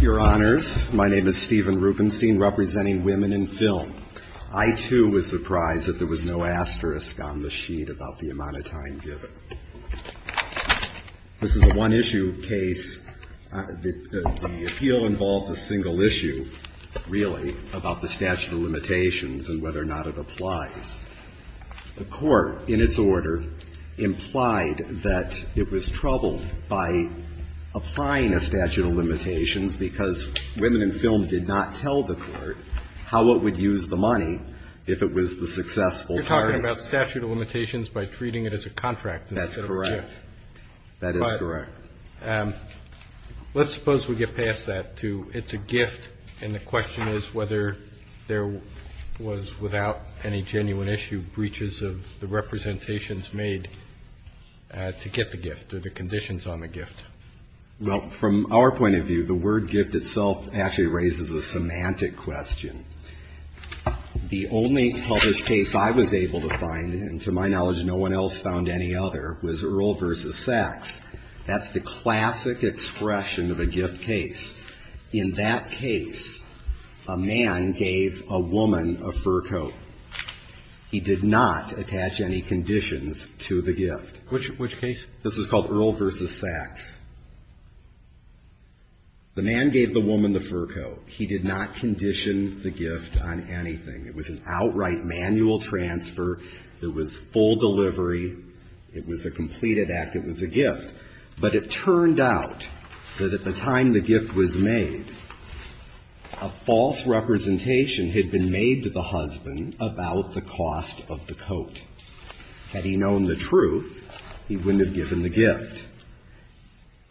Your Honors, my name is Stephen Rubenstein, representing Women in Film. I, too, was surprised that there was no asterisk on the sheet about the amount of time given. This is a one-issue case. The appeal involves a single issue, really, about the statute of limitations and whether or not it applies. The Court, in its order, implied that it was troubled by applying a statute of limitations because Women in Film did not tell the Court how it would use the money if it was the successful party. You're talking about statute of limitations by treating it as a contract instead of a gift. That's correct. That is correct. But let's suppose we get past that, too. It's a gift, and the question is whether there was, without any genuine issue, breaches of the representations made to get the gift or the conditions on the gift. Well, from our point of view, the word gift itself actually raises a semantic question. The only published case I was able to find, and to my knowledge no one else found any other, was Earle v. Sachs. That's the classic expression of a gift case. In that case, a man gave a woman a fur coat. He did not attach any conditions to the gift. Which case? This is called Earle v. Sachs. The man gave the woman the fur coat. He did not condition the gift on anything. It was an outright manual transfer. It was full delivery. It was a completed act. It was a gift. But it turned out that at the time the gift was made, a false representation had been made to the husband about the cost of the coat. Had he known the truth, he wouldn't have given the gift.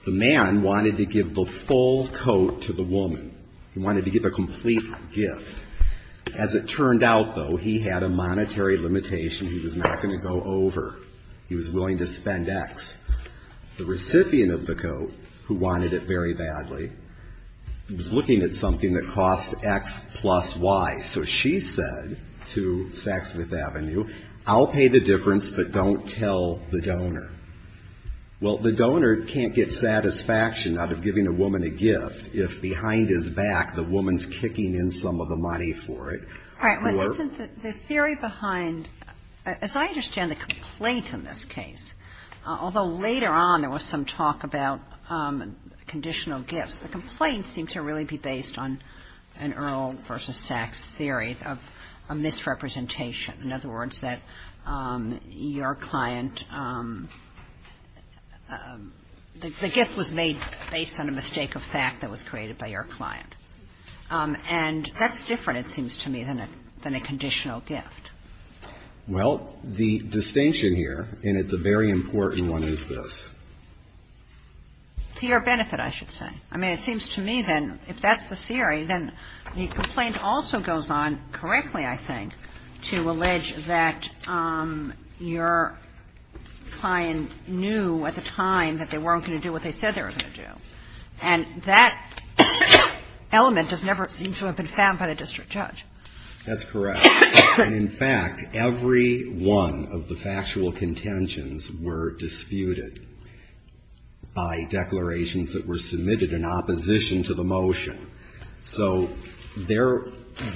The man wanted to give the full coat to the woman. He wanted to give a complete gift. As it turned out, though, he had a monetary limitation he was not going to go over. He was willing to spend X. The recipient of the coat, who wanted it very badly, was looking at something that cost X plus Y. So she said to Saks Fifth Avenue, I'll pay the difference, but don't tell the donor. Well, the donor can't get satisfaction out of giving a woman a gift if behind his back the woman's kicking in some of the money for it. All right. But isn't the theory behind as I understand the complaint in this case, although later on there was some talk about conditional gifts, the complaint seems to really be based on an Earl v. Saks theory of a misrepresentation. In other words, that your client, the gift was made based on a mistake of fact that was created by your client. And that's different, it seems to me, than a conditional gift. Well, the distinction here, and it's a very important one, is this. To your benefit, I should say. I mean, it seems to me, then, if that's the theory, then the complaint also goes on correctly, I think, to allege that your client knew at the time that they weren't going to do what they said they were going to do. And that element does never seem to have been found by the district judge. That's correct. And in fact, every one of the factual contentions were disputed by declarations that were submitted in opposition to the motion. So there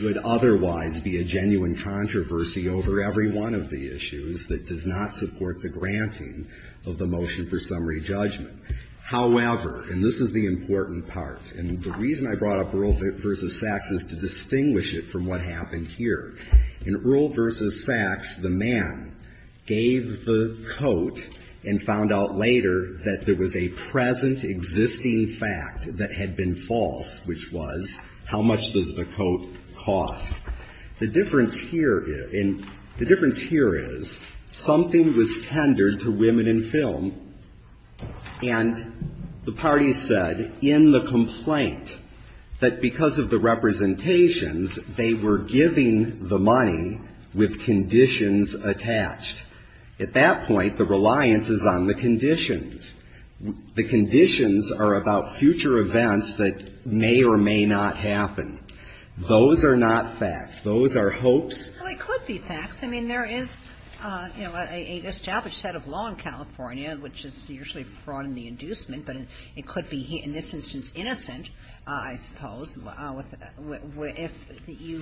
would otherwise be a genuine controversy over every one of the issues that does not support the granting of the motion for summary judgment. However, and this is the important part, and the reason I brought up Earl v. Saks is to distinguish it from what happened here. In Earl v. Saks, the man gave the coat and found out later that there was a present existing fact that had been false, which was, how much does the coat cost? The difference here is, something was tendered to women in film, and the party said in the complaint that because of the representations, they were giving the money with conditions attached. At that point, the reliance is on the conditions. The conditions are about future events that may or may not happen. Those are not facts. Those are hopes. Well, it could be facts. I mean, there is, you know, a established set of law in California, which is usually fraud in the inducement, but it could be, in this instance, innocent, I suppose, if you,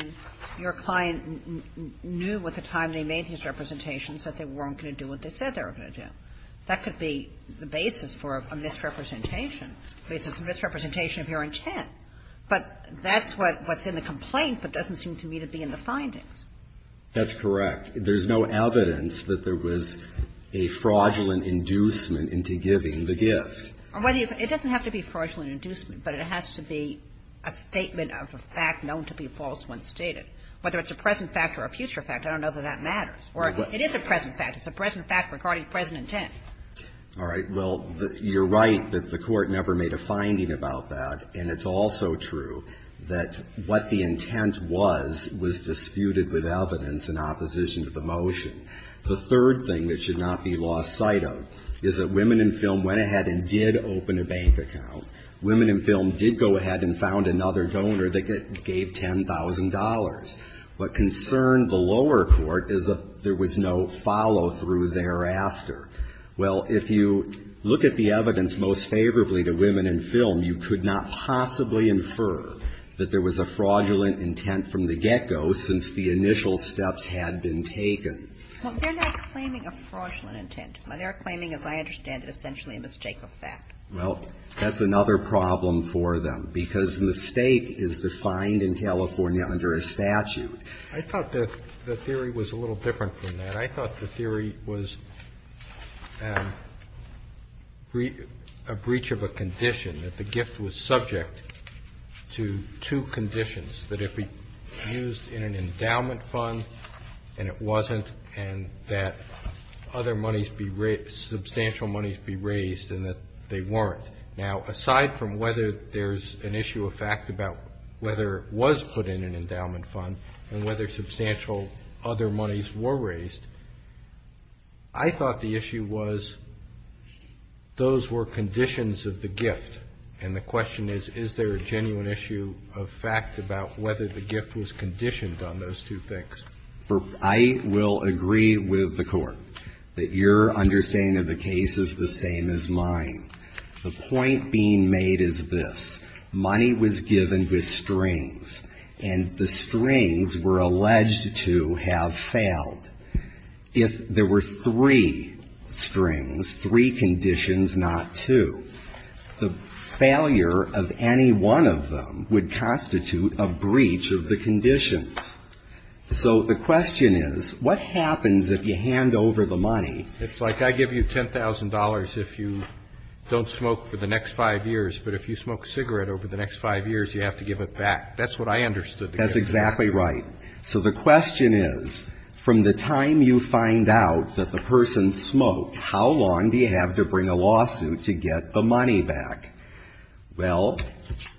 your client knew at the time they made these representations that they weren't going to do what they said they were going to do. That could be the basis for a misrepresentation, a misrepresentation of your intent. But that's what's in the complaint, but doesn't seem to me to be in the findings. That's correct. There's no evidence that there was a fraudulent inducement into giving the gift. Well, it doesn't have to be fraudulent inducement, but it has to be a statement of a fact known to be false when stated. Whether it's a present fact or a future fact, I don't know that that matters. Or it is a present fact. It's a present fact regarding present intent. All right. Well, you're right that the Court never made a finding about that, and it's also true that what the intent was, was disputed with evidence in opposition to the motion. The third thing that should not be lost sight of is that Women in Film went ahead and did open a bank account. Women in Film did go ahead and found another donor that gave $10,000. What concerned the lower court is that there was no follow-through thereafter. Well, if you look at the evidence most favorably to Women in Film, you could not possibly infer that there was a fraudulent intent from the get-go since the initial steps had been taken. Well, they're not claiming a fraudulent intent. They're claiming, as I understand it, essentially a mistake of fact. Well, that's another problem for them, because mistake is defined in California under a statute. I thought the theory was a little different from that. I thought the theory was a breach of a condition, that the gift was subject to two conditions, that it be used in an endowment fund, and it wasn't, and that other monies be raised, substantial monies be raised, and that they weren't. Now, aside from whether there's an issue of fact about whether it was put in an endowment fund, I thought the issue was those were conditions of the gift. And the question is, is there a genuine issue of fact about whether the gift was conditioned on those two things? I will agree with the Court that your understanding of the case is the same as mine. The point being made is this. Money was given with strings, and the strings were alleged to have failed. If there were three strings, three conditions, not two, the failure of any one of them would constitute a breach of the conditions. So the question is, what happens if you hand over the money? It's like I give you $10,000 if you don't smoke for the next five years, but if you smoke cigarette over the next five years, you have to give it back. That's what I understood. That's exactly right. So the question is, from the time you find out that the person smoked, how long do you have to bring a lawsuit to get the money back? Well,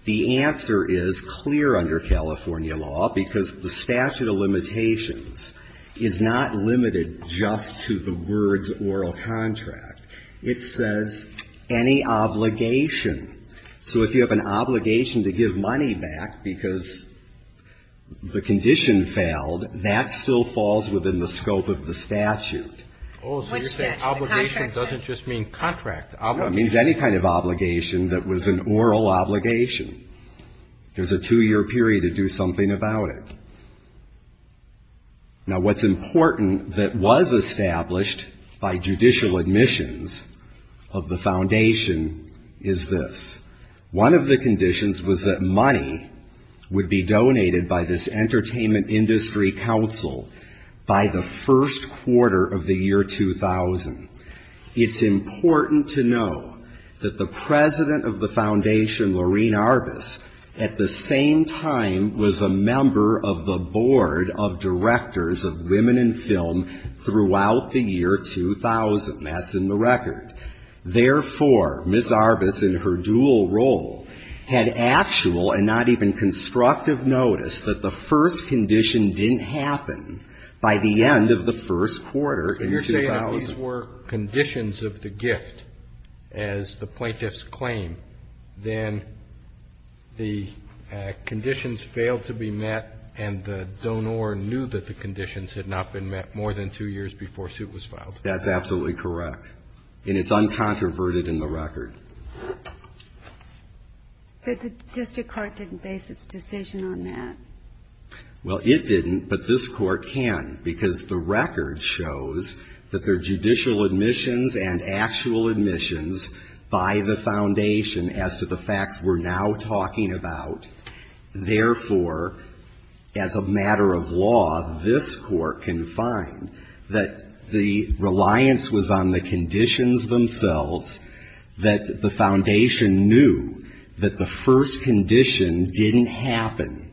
the answer is clear under California law, because the statute of limitations is not limited just to the words oral contract. It says any obligation. So if you have an obligation to give money back because the condition failed, that still falls within the scope of the statute. Oh, so you're saying obligation doesn't just mean contract. It means any kind of obligation that was an oral obligation. There's a two-year period to do something about it. Now, what's important that was established by judicial admissions of the Foundation is this. One of the conditions was that money would be donated by this Entertainment Industry Council by the first quarter of the year 2000. It's important to know that the president of the Foundation, Lorene Arbus, at the same time was a member of the board of directors of women in film throughout the year 2000. That's in the record. Therefore, Ms. Arbus in her dual role had actual and not even constructive notice that the first condition didn't happen by the end of the first quarter in 2000. So you're saying if these were conditions of the gift, as the plaintiffs claim, then the conditions failed to be met and the donor knew that the conditions had not been met more than two years before suit was filed. That's absolutely correct. And it's uncontroverted in the record. But the district court didn't base its decision on that. Well, it didn't, but this court can because the record shows that there are judicial admissions and actual admissions by the Foundation as to the facts we're now talking about. Therefore, as a matter of law, this court can find that the reliance was on the conditions themselves, that the Foundation knew that the first condition didn't happen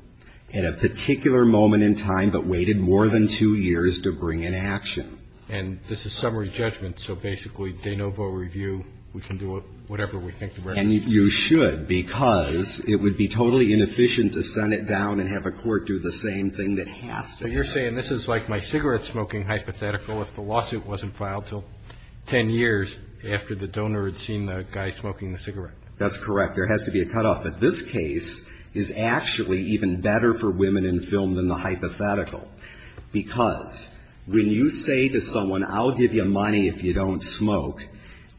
at a particular moment in time, but waited more than two years to bring in action. And this is summary judgment. So basically, de novo review, we can do whatever we think the record says. And you should because it would be totally inefficient to send it down and have a court do the same thing that has to happen. But you're saying this is like my cigarette smoking hypothetical if the lawsuit wasn't filed till 10 years after the donor had seen the guy smoking the cigarette. That's correct. There has to be a cutoff. But this case is actually even better for women in film than the hypothetical because when you say to someone, I'll give you money if you don't smoke,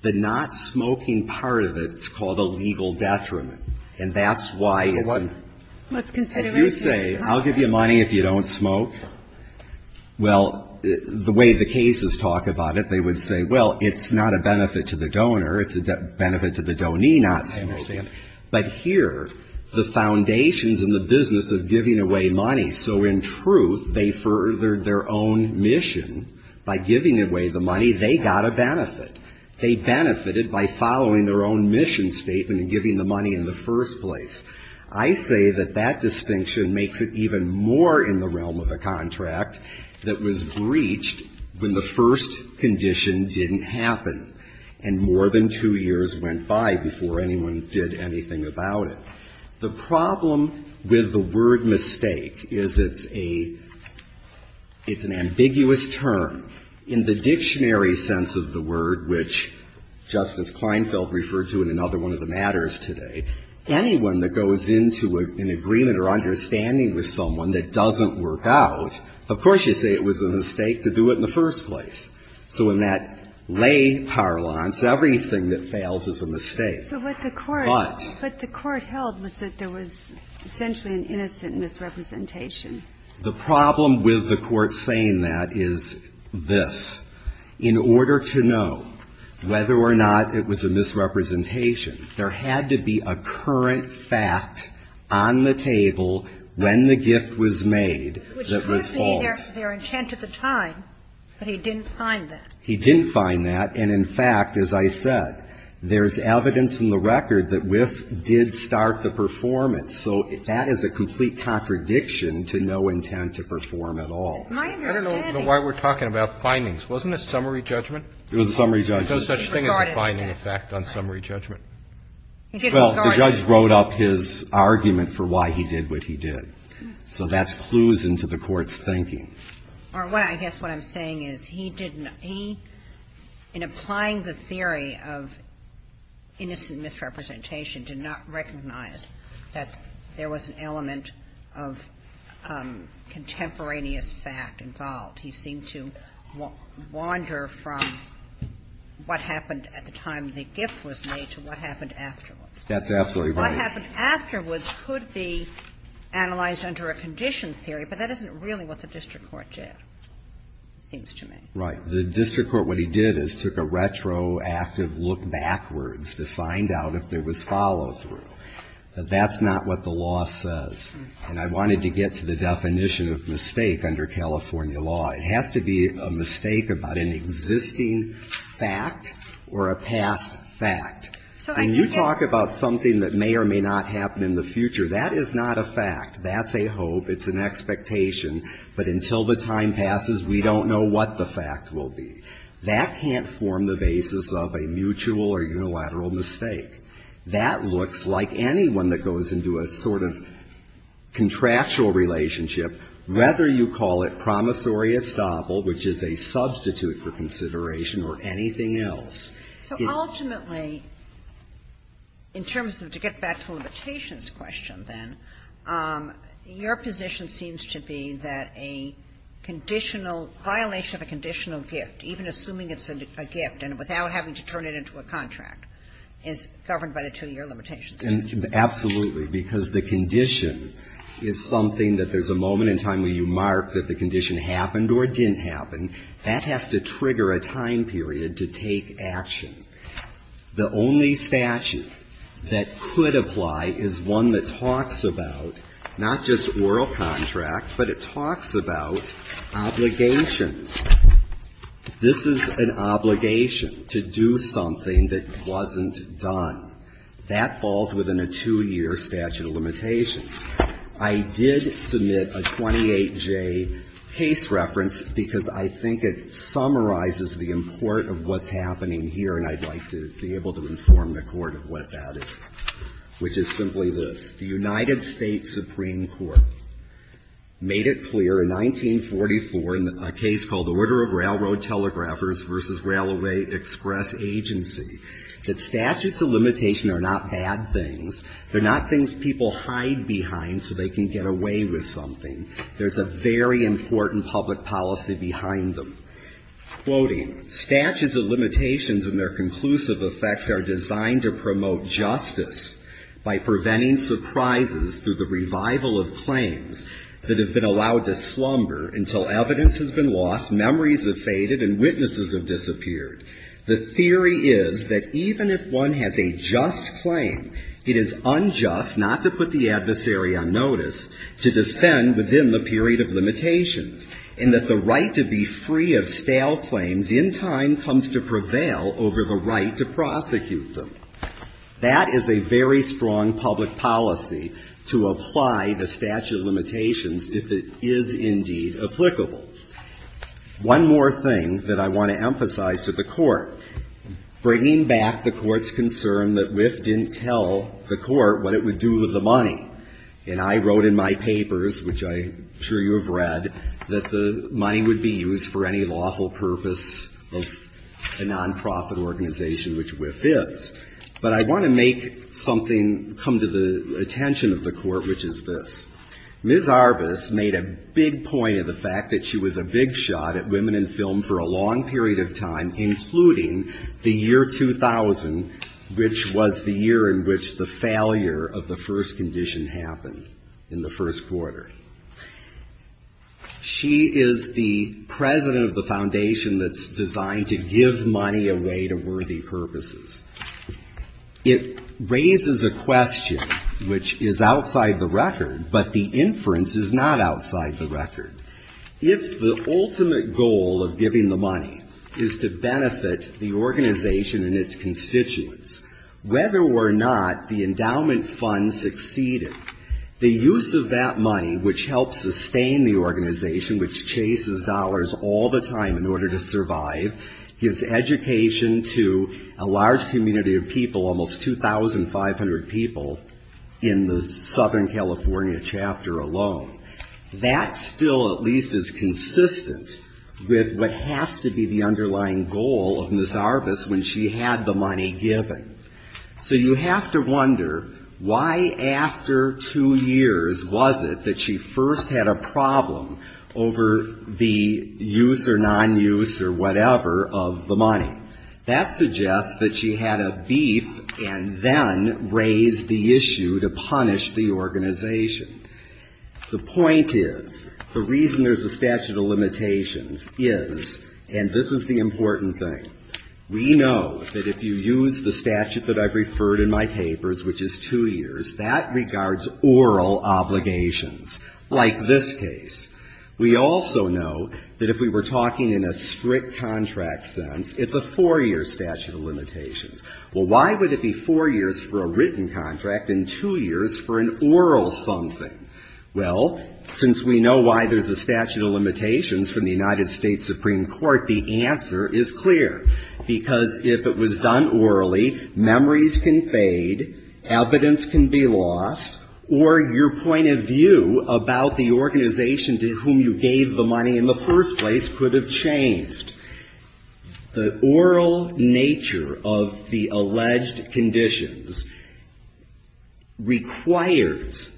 the not smoking part of it is called a legal detriment. And that's why it's a... Well, what's consideration? If you say, I'll give you money if you don't smoke, well, the way the cases talk about it, they would say, well, it's not a benefit to the donor. It's a benefit to the donee not smoking. But here, the Foundation's in the business of giving away money. So in truth, they furthered their own mission by giving away the money. They got a benefit. They benefited by following their own mission statement and giving the money in the first place. I say that that distinction makes it even more in the realm of a contract that was breached when the first condition didn't happen and more than two years went by before anyone did anything about it. The problem with the word mistake is it's an ambiguous term. In the dictionary sense of the word, which Justice Kleinfeld referred to in another one of the matters today, anyone that goes into an agreement or understanding with someone that doesn't work out, of course you say it was a mistake to do it in the first place. So in that lay parlance, everything that fails is a mistake. But what the court held was that there was essentially an innocent misrepresentation. The problem with the court saying that is this. In order to know whether or not it was a misrepresentation, there had to be a current fact on the table when the gift was made that was false. Kagan. Which could have been their intent at the time, but he didn't find that. He didn't find that. And in fact, as I said, there's evidence in the record that Wythe did start the performance. So that is a complete contradiction to no intent to perform at all. I don't know why we're talking about findings. Wasn't it summary judgment? It was a summary judgment. There's no such thing as a finding effect on summary judgment. Well, the judge wrote up his argument for why he did what he did. So that's clues into the Court's thinking. Or what I guess what I'm saying is he didn't he, in applying the theory of innocent misrepresentation, did not recognize that there was an element of contemporaneous fact involved. He seemed to wander from what happened at the time the gift was made to what happened afterwards. That's absolutely right. What happened afterwards could be analyzed under a condition theory, but that isn't really what the district court did, it seems to me. Right. The district court, what he did is took a retroactive look backwards to find out if there was follow-through. That's not what the law says. And I wanted to get to the definition of mistake under California law. It has to be a mistake about an existing fact or a past fact. So I guess you're talking about something that may or may not happen in the future. That is not a fact. That's a hope. It's an expectation. But until the time passes, we don't know what the fact will be. That can't form the basis of a mutual or unilateral mistake. That looks like anyone that goes into a sort of contractual relationship, whether you call it promissory estoppel, which is a substitute for consideration or anything else. So ultimately, in terms of, to get back to limitations question then, your position seems to be that a conditional, violation of a conditional gift, even assuming it's a gift and without having to turn it into a contract, is governed by the two-year limitations. Absolutely. Because the condition is something that there's a moment in time where you mark that the condition happened or didn't happen. That has to trigger a time period to take action. The only statute that could apply is one that talks about not just oral contracts, but it talks about obligations. This is an obligation to do something that wasn't done. That falls within a two-year statute of limitations. I did submit a 28J case reference because I think it summarizes the import of what's happening here, and I'd like to be able to inform the Court of what that is, which is simply this. The United States Supreme Court made it clear in 1944 in a case called Order of Railroad Telegraphers v. Railway Express Agency that statutes of limitation are not bad things. They're not things people hide behind so they can get away with something. There's a very important public policy behind them. Quoting, Statutes of limitations and their conclusive effects are designed to promote justice by preventing surprises through the revival of claims that have been allowed to slumber until evidence has been lost, memories have faded, and witnesses have disappeared. The theory is that even if one has a just claim, it is unjust not to put the adversary on notice, to defend within the period of limitations, and that the right to be free of stale claims in time comes to prevail over the right to prosecute them. That is a very strong public policy to apply the statute of limitations if it is indeed applicable. One more thing that I want to emphasize to the Court, bringing back the Court's concern that Wythe didn't tell the Court what it would do with the money, and I wrote in my papers, which I'm sure you have read, that the money would be used for any lawful purpose of a nonprofit organization, which Wythe is. But I want to make something come to the attention of the Court, which is this. Ms. Arbus made a big point of the fact that she was a big shot at women in film for a long period of time, including the year 2000, which was the year in which the failure of the first condition happened in the first quarter. She is the president of the foundation that's designed to give money away to worthy purposes. It raises a question which is outside the record, but the inference is not outside the record. If the ultimate goal of giving the money is to benefit the organization and its fund succeeded, the use of that money, which helps sustain the organization, which chases dollars all the time in order to survive, gives education to a large community of people, almost 2,500 people in the Southern California chapter alone. That still at least is consistent with what has to be the underlying goal of Ms. Arbus when she had the money given. So you have to wonder why after two years was it that she first had a problem over the use or nonuse or whatever of the money. That suggests that she had a beef and then raised the issue to punish the organization. The point is, the reason there's a statute of limitations is, and this is the important thing, we know that if you use the statute that I've referred in my papers, which is two years, that regards oral obligations, like this case. We also know that if we were talking in a strict contract sense, it's a four-year statute of limitations. Well, why would it be four years for a written contract and two years for an oral something? Well, since we know why there's a statute of limitations from the United States Supreme Court, the answer is clear, because if it was done orally, memories can fade, evidence can be lost, or your point of view about the organization to whom you gave the money in the first place could have changed. The oral nature of the alleged conditions requires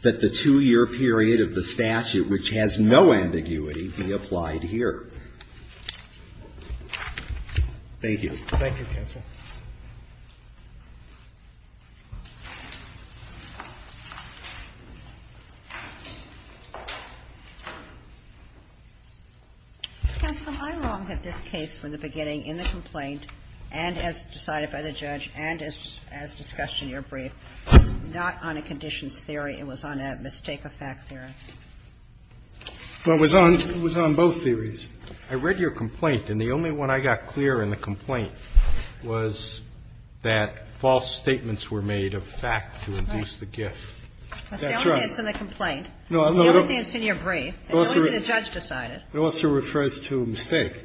that the two-year period of the statute, which has no ambiguity, be applied here. Thank you. Thank you, counsel. Counsel, I'm wrong that this case from the beginning in the complaint, and as decided by the judge, and as discussed in your brief, was not on a conditions theory. It was on a mistake of fact theory. It was on both theories. I read your complaint, and the only one I got clear in the complaint was that false statements were made of fact to induce the gift. That's right. That's the only thing that's in the complaint. The only thing that's in your brief. The only thing the judge decided. It also refers to a mistake.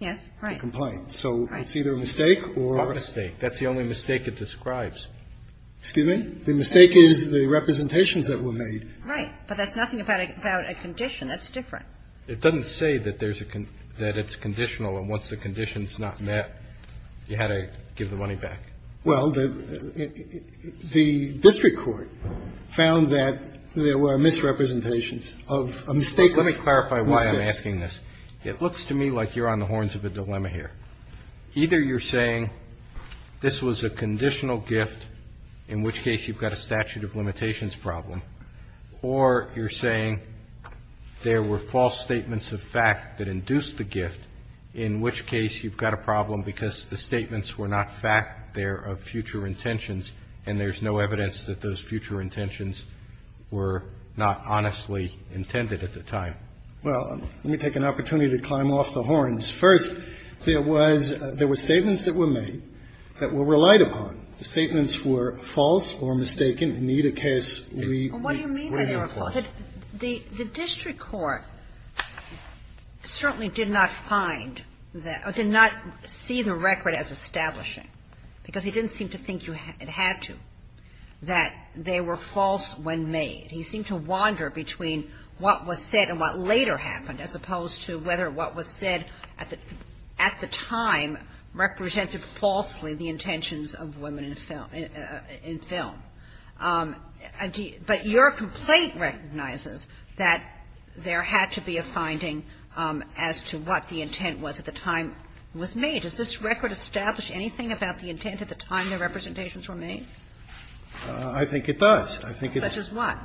Yes, right. A complaint. So it's either a mistake or a mistake. That's the only mistake it describes. Excuse me? The mistake is the representations that were made. Right. But that's nothing about a condition. That's different. It doesn't say that it's conditional, and once the condition's not met, you had to give the money back. Well, the district court found that there were misrepresentations of a mistake. Let me clarify why I'm asking this. It looks to me like you're on the horns of a dilemma here. Either you're saying this was a conditional gift, in which case you've got a statute of limitations problem, or you're saying there were false statements of fact that induced the gift, in which case you've got a problem because the statements were not fact. They're of future intentions, and there's no evidence that those future intentions were not honestly intended at the time. Well, let me take an opportunity to climb off the horns. First, there was statements that were made that were relied upon. The statements were false or mistaken. In either case, we were enforced. What do you mean by they were false? The district court certainly did not find that or did not see the record as establishing, because he didn't seem to think you had to, that they were false when made. He seemed to wander between what was said and what later happened, as opposed to whether what was said at the time represented falsely the intentions of women in film. But your complaint recognizes that there had to be a finding as to what the intent was at the time it was made. Does this record establish anything about the intent at the time the representations were made? I think it does. I think it does. Such as what?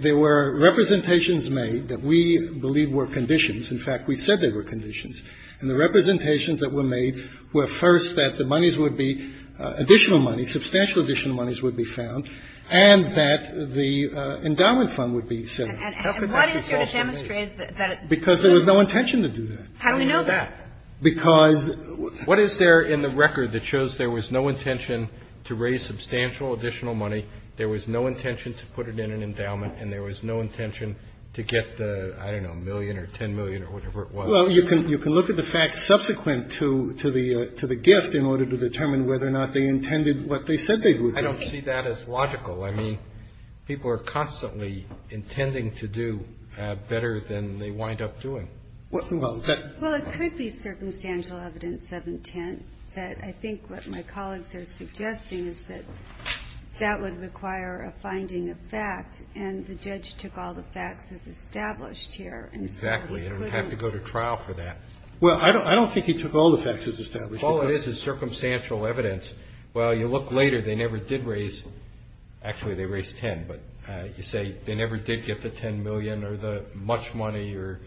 There were representations made that we believe were conditions. In fact, we said they were conditions. And the representations that were made were, first, that the monies would be additional monies, substantial additional monies would be found, and that the endowment fund would be set up. And how could that be false when made? Because there was no intention to do that. How do we know that? Because what is there in the record that shows there was no intention to raise substantial additional money? There was no intention to put it in an endowment. And there was no intention to get the, I don't know, a million or ten million or whatever it was. Well, you can look at the facts subsequent to the gift in order to determine whether or not they intended what they said they would do. I don't see that as logical. I mean, people are constantly intending to do better than they wind up doing. Well, it could be circumstantial evidence of intent. I think what my colleagues are suggesting is that that would require a finding of fact, and the judge took all the facts as established here. Exactly. And it would have to go to trial for that. Well, I don't think he took all the facts as established. All it is is circumstantial evidence. Well, you look later. They never did raise, actually, they raised ten. But you say they never did get the ten million or the much money or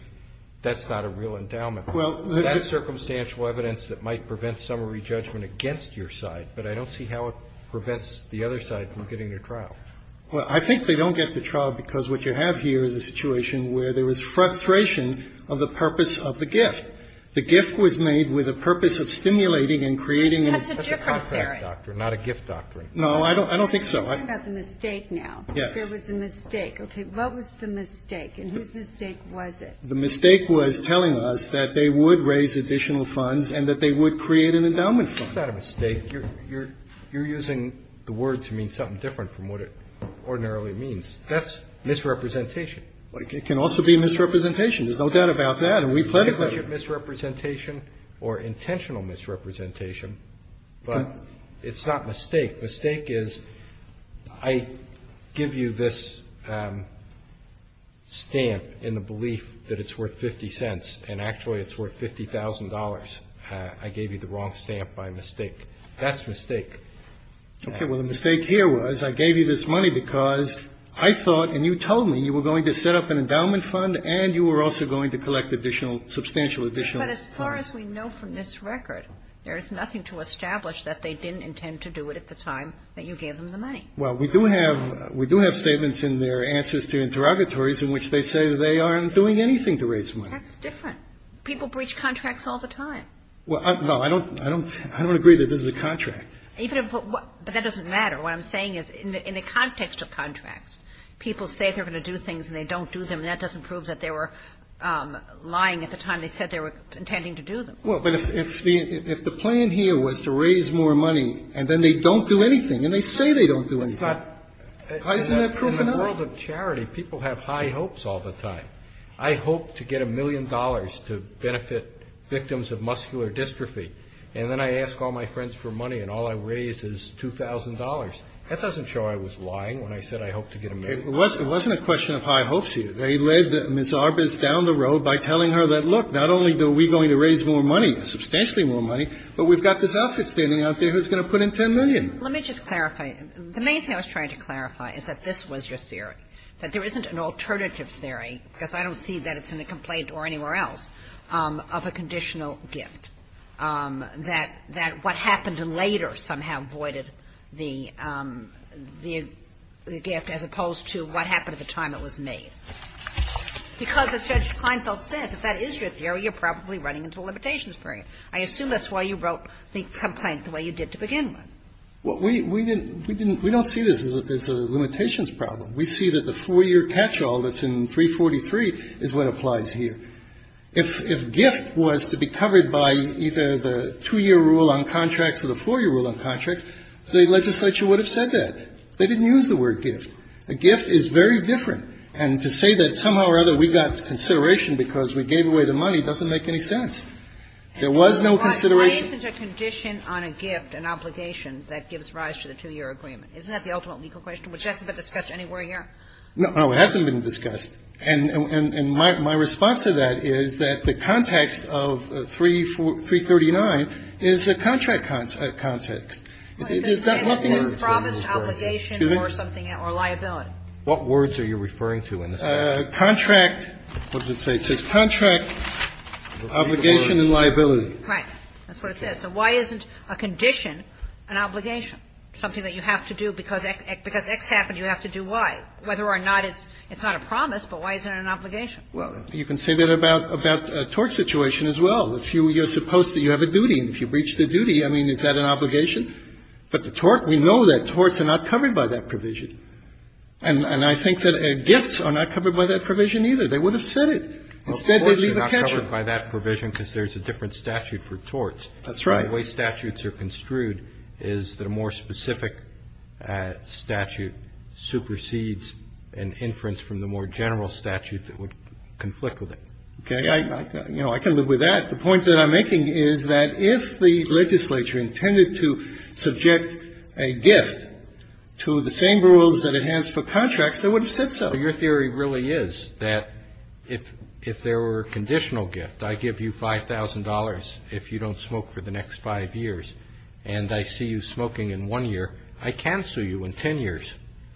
that's not a real endowment. Well, that's circumstantial evidence that might prevent summary judgment against your side, but I don't see how it prevents the other side from getting their trial. Well, I think they don't get the trial because what you have here is a situation where there was frustration of the purpose of the gift. The gift was made with a purpose of stimulating and creating. That's a different theory. That's a contract doctrine, not a gift doctrine. No, I don't think so. You're talking about the mistake now. Yes. There was a mistake. Okay. What was the mistake, and whose mistake was it? The mistake was telling us that they would raise additional funds and that they would create an endowment fund. It's not a mistake. You're using the word to mean something different from what it ordinarily means. That's misrepresentation. But it can also be misrepresentation. There's no doubt about that, and we pledged that. It may be misrepresentation or intentional misrepresentation, but it's not mistake. Mistake is I give you this stamp in the belief that it's worth 50 cents, and actually it's worth $50,000. I gave you the wrong stamp by mistake. That's mistake. Okay. Well, the mistake here was I gave you this money because I thought, and you told me, you were going to set up an endowment fund and you were also going to collect additional substantial additional funds. But as far as we know from this record, there is nothing to establish that they didn't intend to do it at the time that you gave them the money. Well, we do have statements in their answers to interrogatories in which they say they aren't doing anything to raise money. That's different. People breach contracts all the time. Well, no, I don't agree that this is a contract. But that doesn't matter. What I'm saying is in the context of contracts, people say they're going to do things and they don't do them, and that doesn't prove that they were lying at the time they said they were intending to do them. Well, but if the plan here was to raise more money and then they don't do anything and they say they don't do anything, isn't that proof enough? In the world of charity, people have high hopes all the time. I hope to get a million dollars to benefit victims of muscular dystrophy, and then I ask all my friends for money and all I raise is $2,000. That doesn't show I was lying when I said I hoped to get a million dollars. It wasn't a question of high hopes here. They led Ms. Arbus down the road by telling her that, look, not only are we going to raise more money, substantially more money, but we've got this outfit standing out there who's going to put in $10 million. Let me just clarify. The main thing I was trying to clarify is that this was your theory, that there isn't an alternative theory, because I don't see that it's in the complaint or anywhere else, of a conditional gift, that what happened later somehow voided the gift as opposed to what happened at the time it was made. Because, as Judge Kleinfeld says, if that is your theory, you're probably running into a limitations period. I assume that's why you wrote the complaint the way you did to begin with. Well, we didn't – we don't see this as a limitations problem. We see that the 4-year catch-all that's in 343 is what applies here. If gift was to be covered by either the 2-year rule on contracts or the 4-year rule on contracts, the legislature would have said that. They didn't use the word gift. A gift is very different. And to say that somehow or other we got consideration because we gave away the money doesn't make any sense. There was no consideration. But why isn't a condition on a gift an obligation that gives rise to the 2-year agreement? Isn't that the ultimate legal question, which hasn't been discussed anywhere here? No, it hasn't been discussed. And my response to that is that the context of 339 is a contract context. If it's a promise to obligation or something or liability. What words are you referring to in this case? Contract. What does it say? It says contract, obligation, and liability. Right. That's what it says. So why isn't a condition an obligation? Something that you have to do because X happened, you have to do Y. Whether or not it's not a promise, but why isn't it an obligation? Well, you can say that about a tort situation as well. If you're supposed to, you have a duty. And if you breach the duty, I mean, is that an obligation? But the tort, we know that torts are not covered by that provision. And I think that gifts are not covered by that provision either. They would have said it. Instead, they leave a caption. Well, torts are not covered by that provision because there's a different statute for torts. That's right. The way statutes are construed is that a more specific statute supersedes an inference from the more general statute that would conflict with it. Okay? I can live with that. The point that I'm making is that if the legislature intended to subject a gift to the same rules that it has for contracts, they would have said so. Your theory really is that if there were a conditional gift, I give you $5,000 if you don't smoke for the next five years, and I see you smoking in one year, I cancel you in ten years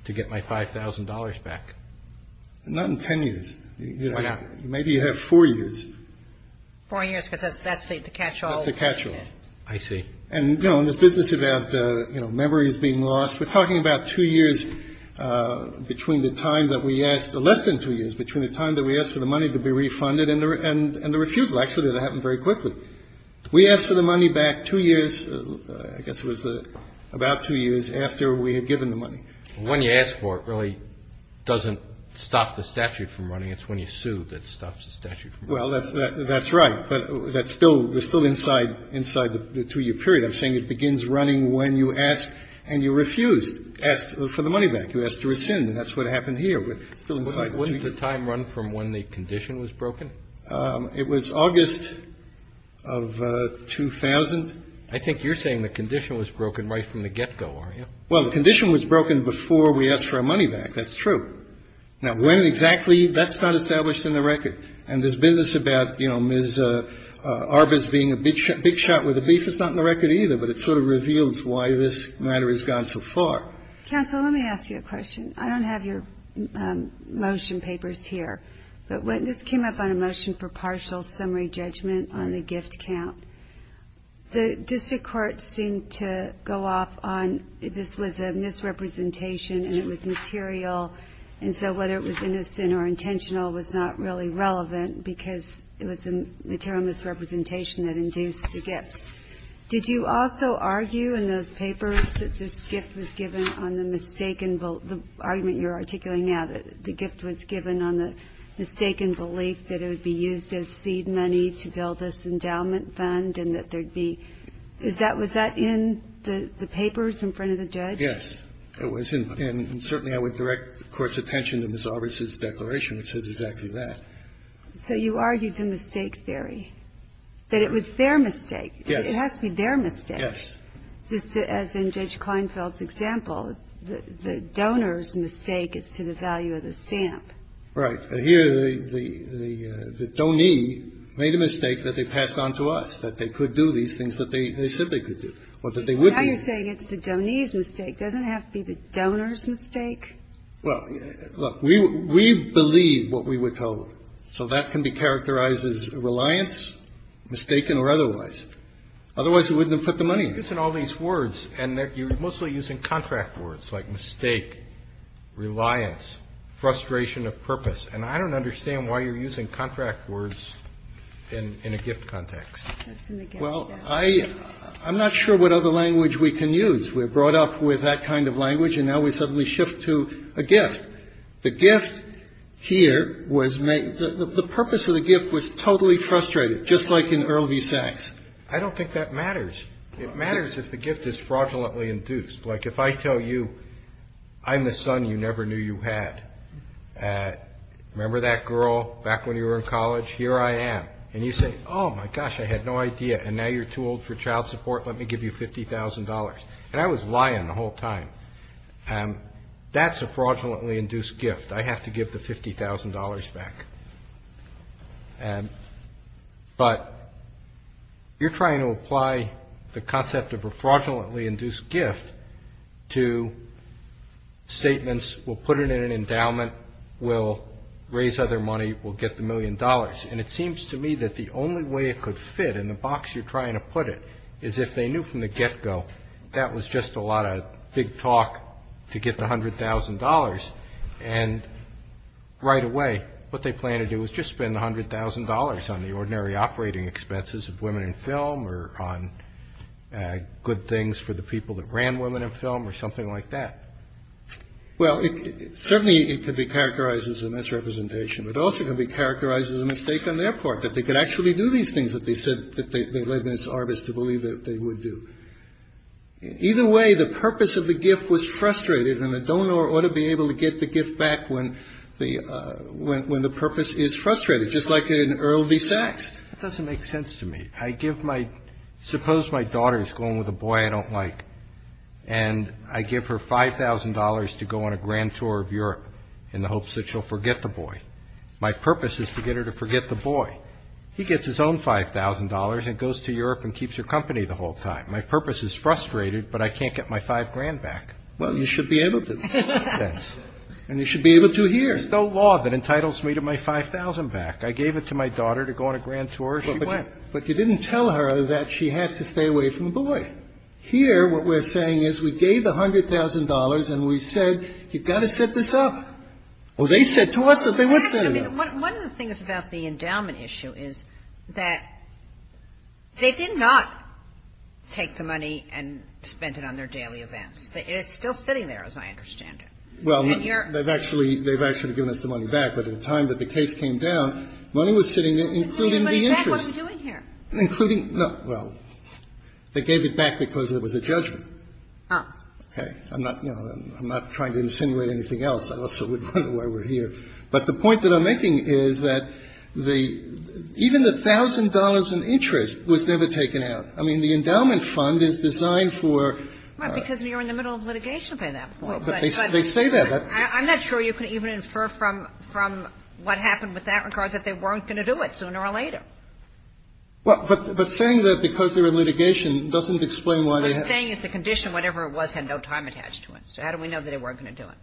to get my $5,000 back. Not in ten years. Why not? Maybe you have four years. Four years because that's the catch-all. That's the catch-all. I see. And, you know, in this business about, you know, memories being lost, we're talking about two years between the time that we asked, less than two years between the time that we asked for the money to be refunded and the refusal. Actually, that happened very quickly. We asked for the money back two years, I guess it was about two years, after we had given the money. When you ask for it really doesn't stop the statute from running. It's when you sue that stops the statute from running. Well, that's right. But that's still inside the two-year period. I'm saying it begins running when you ask and you refuse to ask for the money back. You ask to rescind, and that's what happened here. Wasn't the time run from when the condition was broken? It was August of 2000. I think you're saying the condition was broken right from the get-go, aren't you? Well, the condition was broken before we asked for our money back. That's true. Now, when exactly, that's not established in the record. And this business about, you know, Ms. Arbus being a big shot with the beef is not in the record either. But it sort of reveals why this matter has gone so far. Counsel, let me ask you a question. I don't have your motion papers here. But this came up on a motion for partial summary judgment on the gift count. The district court seemed to go off on this was a misrepresentation and it was material. And so whether it was innocent or intentional was not really relevant because it was a material misrepresentation that induced the gift. Did you also argue in those papers that this gift was given on the mistaken, the argument you're articulating now, that the gift was given on the mistaken belief that it would be used as seed money to build this endowment fund and that there'd be, was that in the papers in front of the judge? Yes, it was. And certainly I would direct the Court's attention to Ms. Arbus' declaration, which says exactly that. So you argued the mistake theory, that it was their mistake. Yes. It has to be their mistake. Yes. Just as in Judge Kleinfeld's example, the donor's mistake is to the value of the stamp. Right. Here, the donee made a mistake that they passed on to us, that they could do these things that they said they could do or that they would do. Now you're saying it's the donee's mistake. Doesn't it have to be the donor's mistake? Well, look, we believe what we withhold. So that can be characterized as reliance, mistaken, or otherwise. Otherwise, we wouldn't have put the money in. You're using all these words, and you're mostly using contract words like mistake, reliance, frustration of purpose. And I don't understand why you're using contract words in a gift context. Well, I'm not sure what other language we can use. We're brought up with that kind of language, and now we suddenly shift to a gift. The gift here was made the purpose of the gift was totally frustrated, just like in Earl V. Sacks. I don't think that matters. It matters if the gift is fraudulently induced. Like if I tell you I'm the son you never knew you had. Remember that girl back when you were in college? Here I am. And you say, oh, my gosh, I had no idea. And now you're too old for child support. Let me give you $50,000. And I was lying the whole time. That's a fraudulently induced gift. I have to give the $50,000 back. But you're trying to apply the concept of a fraudulently induced gift to statements, we'll put it in an endowment, we'll raise other money, we'll get the million dollars. And it seems to me that the only way it could fit in the box you're trying to put it is if they knew from the get-go that was just a lot of big talk to get the $100,000. And right away, what they plan to do is just spend $100,000 on the ordinary operating expenses of women in film or on good things for the people that ran women in film or something like that. Well, certainly it could be characterized as a misrepresentation, but it also could be characterized as a mistake on their part that they could actually do these things that they said that they led this artist to believe that they would do. Either way, the purpose of the gift was frustrated, and the donor ought to be able to get the gift back when the purpose is frustrated, just like in Earl V. Sacks. That doesn't make sense to me. I give my – suppose my daughter's going with a boy I don't like, and I give her $5,000 to go on a grand tour of Europe in the hopes that she'll forget the boy. My purpose is to get her to forget the boy. He gets his own $5,000 and goes to Europe and keeps her company the whole time. My purpose is frustrated, but I can't get my five grand back. Well, you should be able to. It makes sense. And you should be able to hear. There's no law that entitles me to my 5,000 back. I gave it to my daughter to go on a grand tour, and she went. But you didn't tell her that she had to stay away from the boy. Here, what we're saying is we gave the $100,000, and we said, you've got to set this up. Well, they said to us that they would set it up. One of the things about the endowment issue is that they did not take the money and spend it on their daily events. It's still sitting there, as I understand it. Well, they've actually – they've actually given us the money back. But at the time that the case came down, money was sitting there, including the interest. In fact, what are we doing here? Including – no. Well, they gave it back because there was a judgment. Oh. Okay. I'm not – you know, I'm not trying to insinuate anything else. I also wouldn't know why we're here. But the point that I'm making is that the – even the $1,000 in interest was never taken out. I mean, the endowment fund is designed for – Well, because you're in the middle of litigation for that. Well, but they say that. I'm not sure you can even infer from what happened with that regard that they weren't going to do it sooner or later. Well, but saying that because they're in litigation doesn't explain why they have to do it. What they're saying is the condition, whatever it was, had no time attached to it. So how do we know that they weren't going to do it?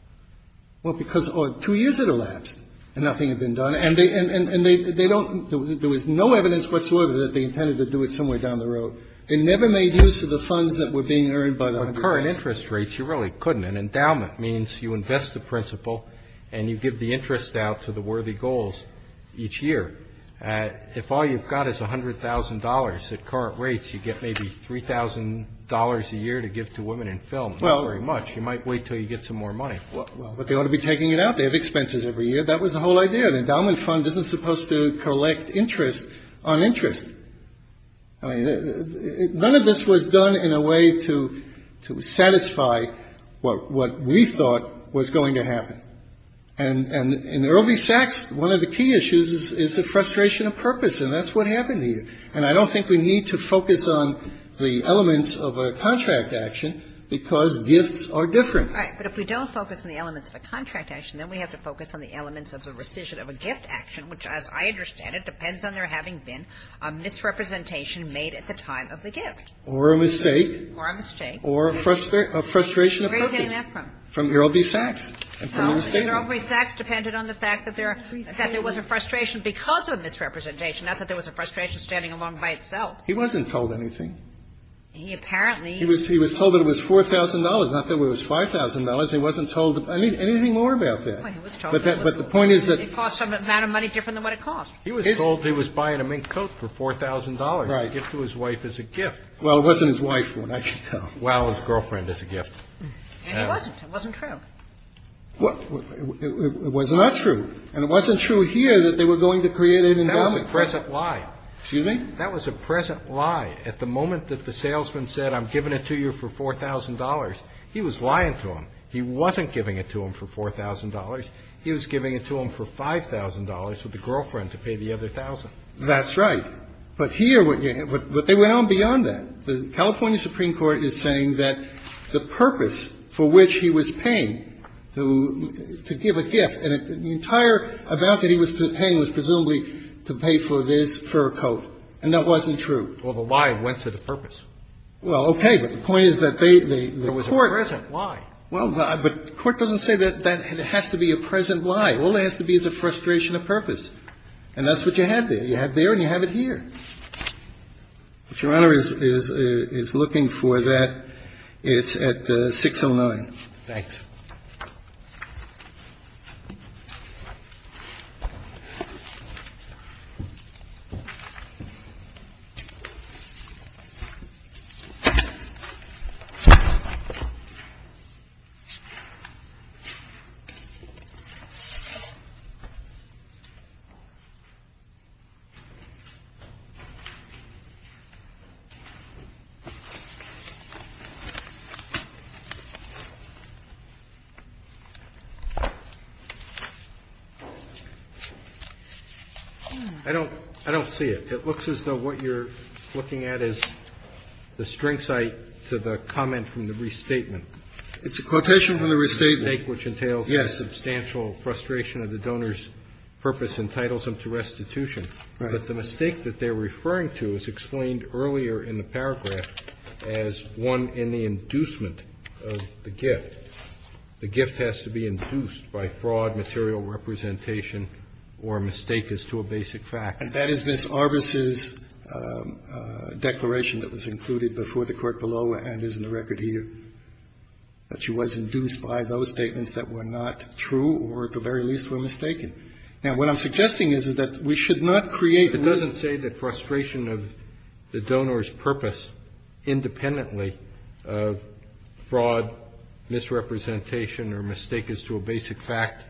Well, because – oh, two years had elapsed and nothing had been done. And they – and they don't – there was no evidence whatsoever that they intended to do it somewhere down the road. They never made use of the funds that were being earned by the 100,000. Well, current interest rates, you really couldn't. An endowment means you invest the principal and you give the interest out to the worthy goals each year. If all you've got is $100,000 at current rates, you get maybe $3,000 a year to give to women in film. Well – Not very much. You might wait until you get some more money. Well, but they ought to be taking it out. They have expenses every year. That was the whole idea. The endowment fund isn't supposed to collect interest on interest. I mean, none of this was done in a way to satisfy what we thought was going to happen. And in Earl B. Sachs, one of the key issues is the frustration of purpose. And that's what happened here. And I don't think we need to focus on the elements of a contract action because gifts are different. Right. But if we don't focus on the elements of a contract action, then we have to focus on the elements of the rescission of a gift action, which, as I understand it, depends on there having been a misrepresentation made at the time of the gift. Or a mistake. Or a mistake. Or a frustration of purpose. Where are you getting that from? From Earl B. Sachs. Well, Earl B. Sachs depended on the fact that there was a frustration because of a misrepresentation, not that there was a frustration standing alone by itself. He wasn't told anything. He apparently. He was told that it was $4,000, not that it was $5,000. He wasn't told anything more about that. Well, he was told. But the point is that. It cost some amount of money different than what it cost. He was told he was buying a mink coat for $4,000. Right. A gift to his wife as a gift. Well, it wasn't his wife, I can tell. Well, his girlfriend as a gift. And it wasn't. It wasn't true. It was not true. And it wasn't true here that they were going to create an endowment. That was a present lie. Excuse me? That was a present lie. At the moment that the salesman said, I'm giving it to you for $4,000, he was lying to him. He wasn't giving it to him for $4,000. He was giving it to him for $5,000 for the girlfriend to pay the other $1,000. That's right. But here. But they went on beyond that. The California Supreme Court is saying that the purpose for which he was paying to give a gift, and the entire amount that he was paying was presumably to pay for this fur coat. And that wasn't true. Well, the lie went to the purpose. Well, okay. But the point is that they, the Court. It was a present lie. Well, but the Court doesn't say that it has to be a present lie. All it has to be is a frustration of purpose. And that's what you have there. You have there and you have it here. If Your Honor is looking for that, it's at 609. Thanks. I don't see it. It looks as though what you're looking at is the string site to the comment from the restatement. It's a quotation from the restatement. Yes. Yes. Substantial frustration of the donor's purpose entitles them to restitution. Right. But the mistake that they're referring to is explained earlier in the paragraph as one in the inducement of the gift. The gift has to be induced by fraud, material representation, or a mistake as to a basic fact. And that is Miss Arbus's declaration that was included before the court below and is in the record here. That she was induced by those statements that were not true or, at the very least, were mistaken. Now, what I'm suggesting is that we should not create a... It doesn't say that frustration of the donor's purpose independently of fraud, misrepresentation, or mistake as to a basic fact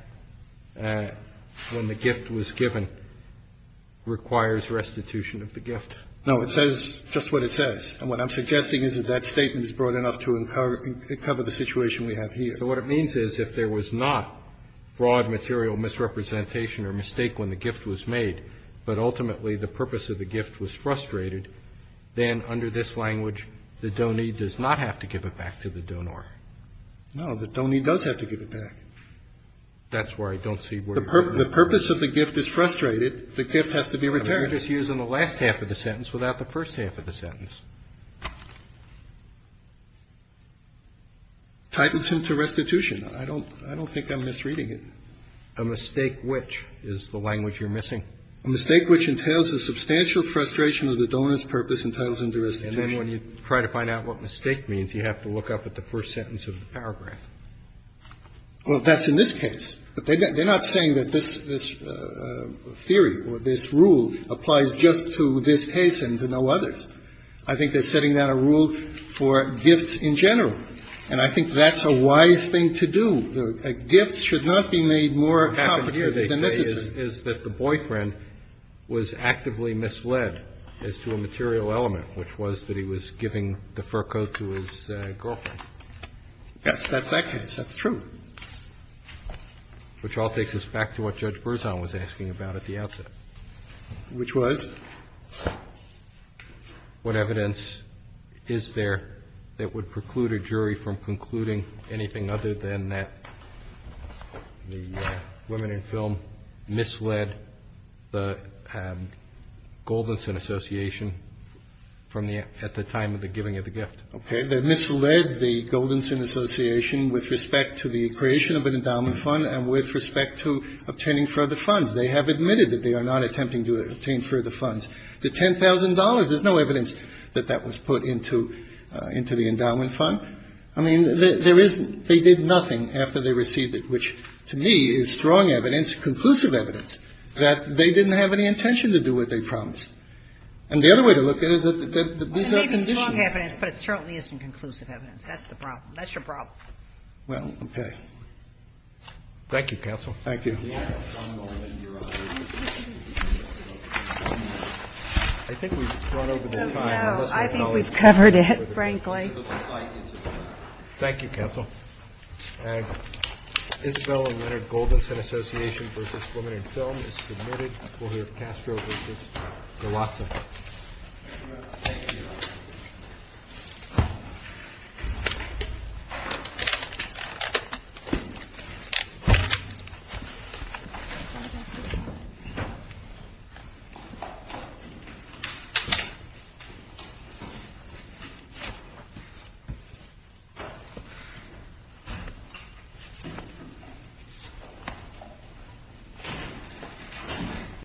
when the gift was given requires restitution of the gift. No. It says just what it says. And what I'm suggesting is that that statement is broad enough to cover the situation we have here. So what it means is if there was not fraud, material misrepresentation, or mistake when the gift was made, but ultimately the purpose of the gift was frustrated, then under this language, the donee does not have to give it back to the donor. No. The donee does have to give it back. That's why I don't see where you're... The purpose of the gift is frustrated. The gift has to be returned. You're just using the last half of the sentence without the first half of the sentence. Titles him to restitution. I don't think I'm misreading it. A mistake which is the language you're missing. A mistake which entails a substantial frustration of the donor's purpose and titles him to restitution. And then when you try to find out what mistake means, you have to look up at the first sentence of the paragraph. Well, that's in this case. But they're not saying that this theory or this rule applies just to this case and to no others. I think they're setting down a rule for gifts in general. And I think that's a wise thing to do. Gifts should not be made more complicated than necessary. What happened here, they say, is that the boyfriend was actively misled as to a material element, which was that he was giving the fur coat to his girlfriend. Yes, that's that case. That's true. Which all takes us back to what Judge Berzon was asking about at the outset. Which was? What evidence is there that would preclude a jury from concluding anything other than that the women in film misled the Goldenson Association from the at the time of the giving of the gift. Okay. They misled the Goldenson Association with respect to the creation of an endowment fund and with respect to obtaining further funds. They have admitted that they are not attempting to obtain further funds. The $10,000, there's no evidence that that was put into the endowment fund. I mean, there isn't. They did nothing after they received it, which to me is strong evidence, conclusive evidence that they didn't have any intention to do what they promised. And the other way to look at it is that these are conditions. It's strong evidence, but it certainly isn't conclusive evidence. That's the problem. That's your problem. Well, okay. Thank you, Counsel. Thank you. I think we've run over the time. I think we've covered it, frankly. Thank you, Counsel. Isabel and Leonard Goldenson Association v. Women in Film is submitted. We'll hear Castro v. Galazza. Thank you.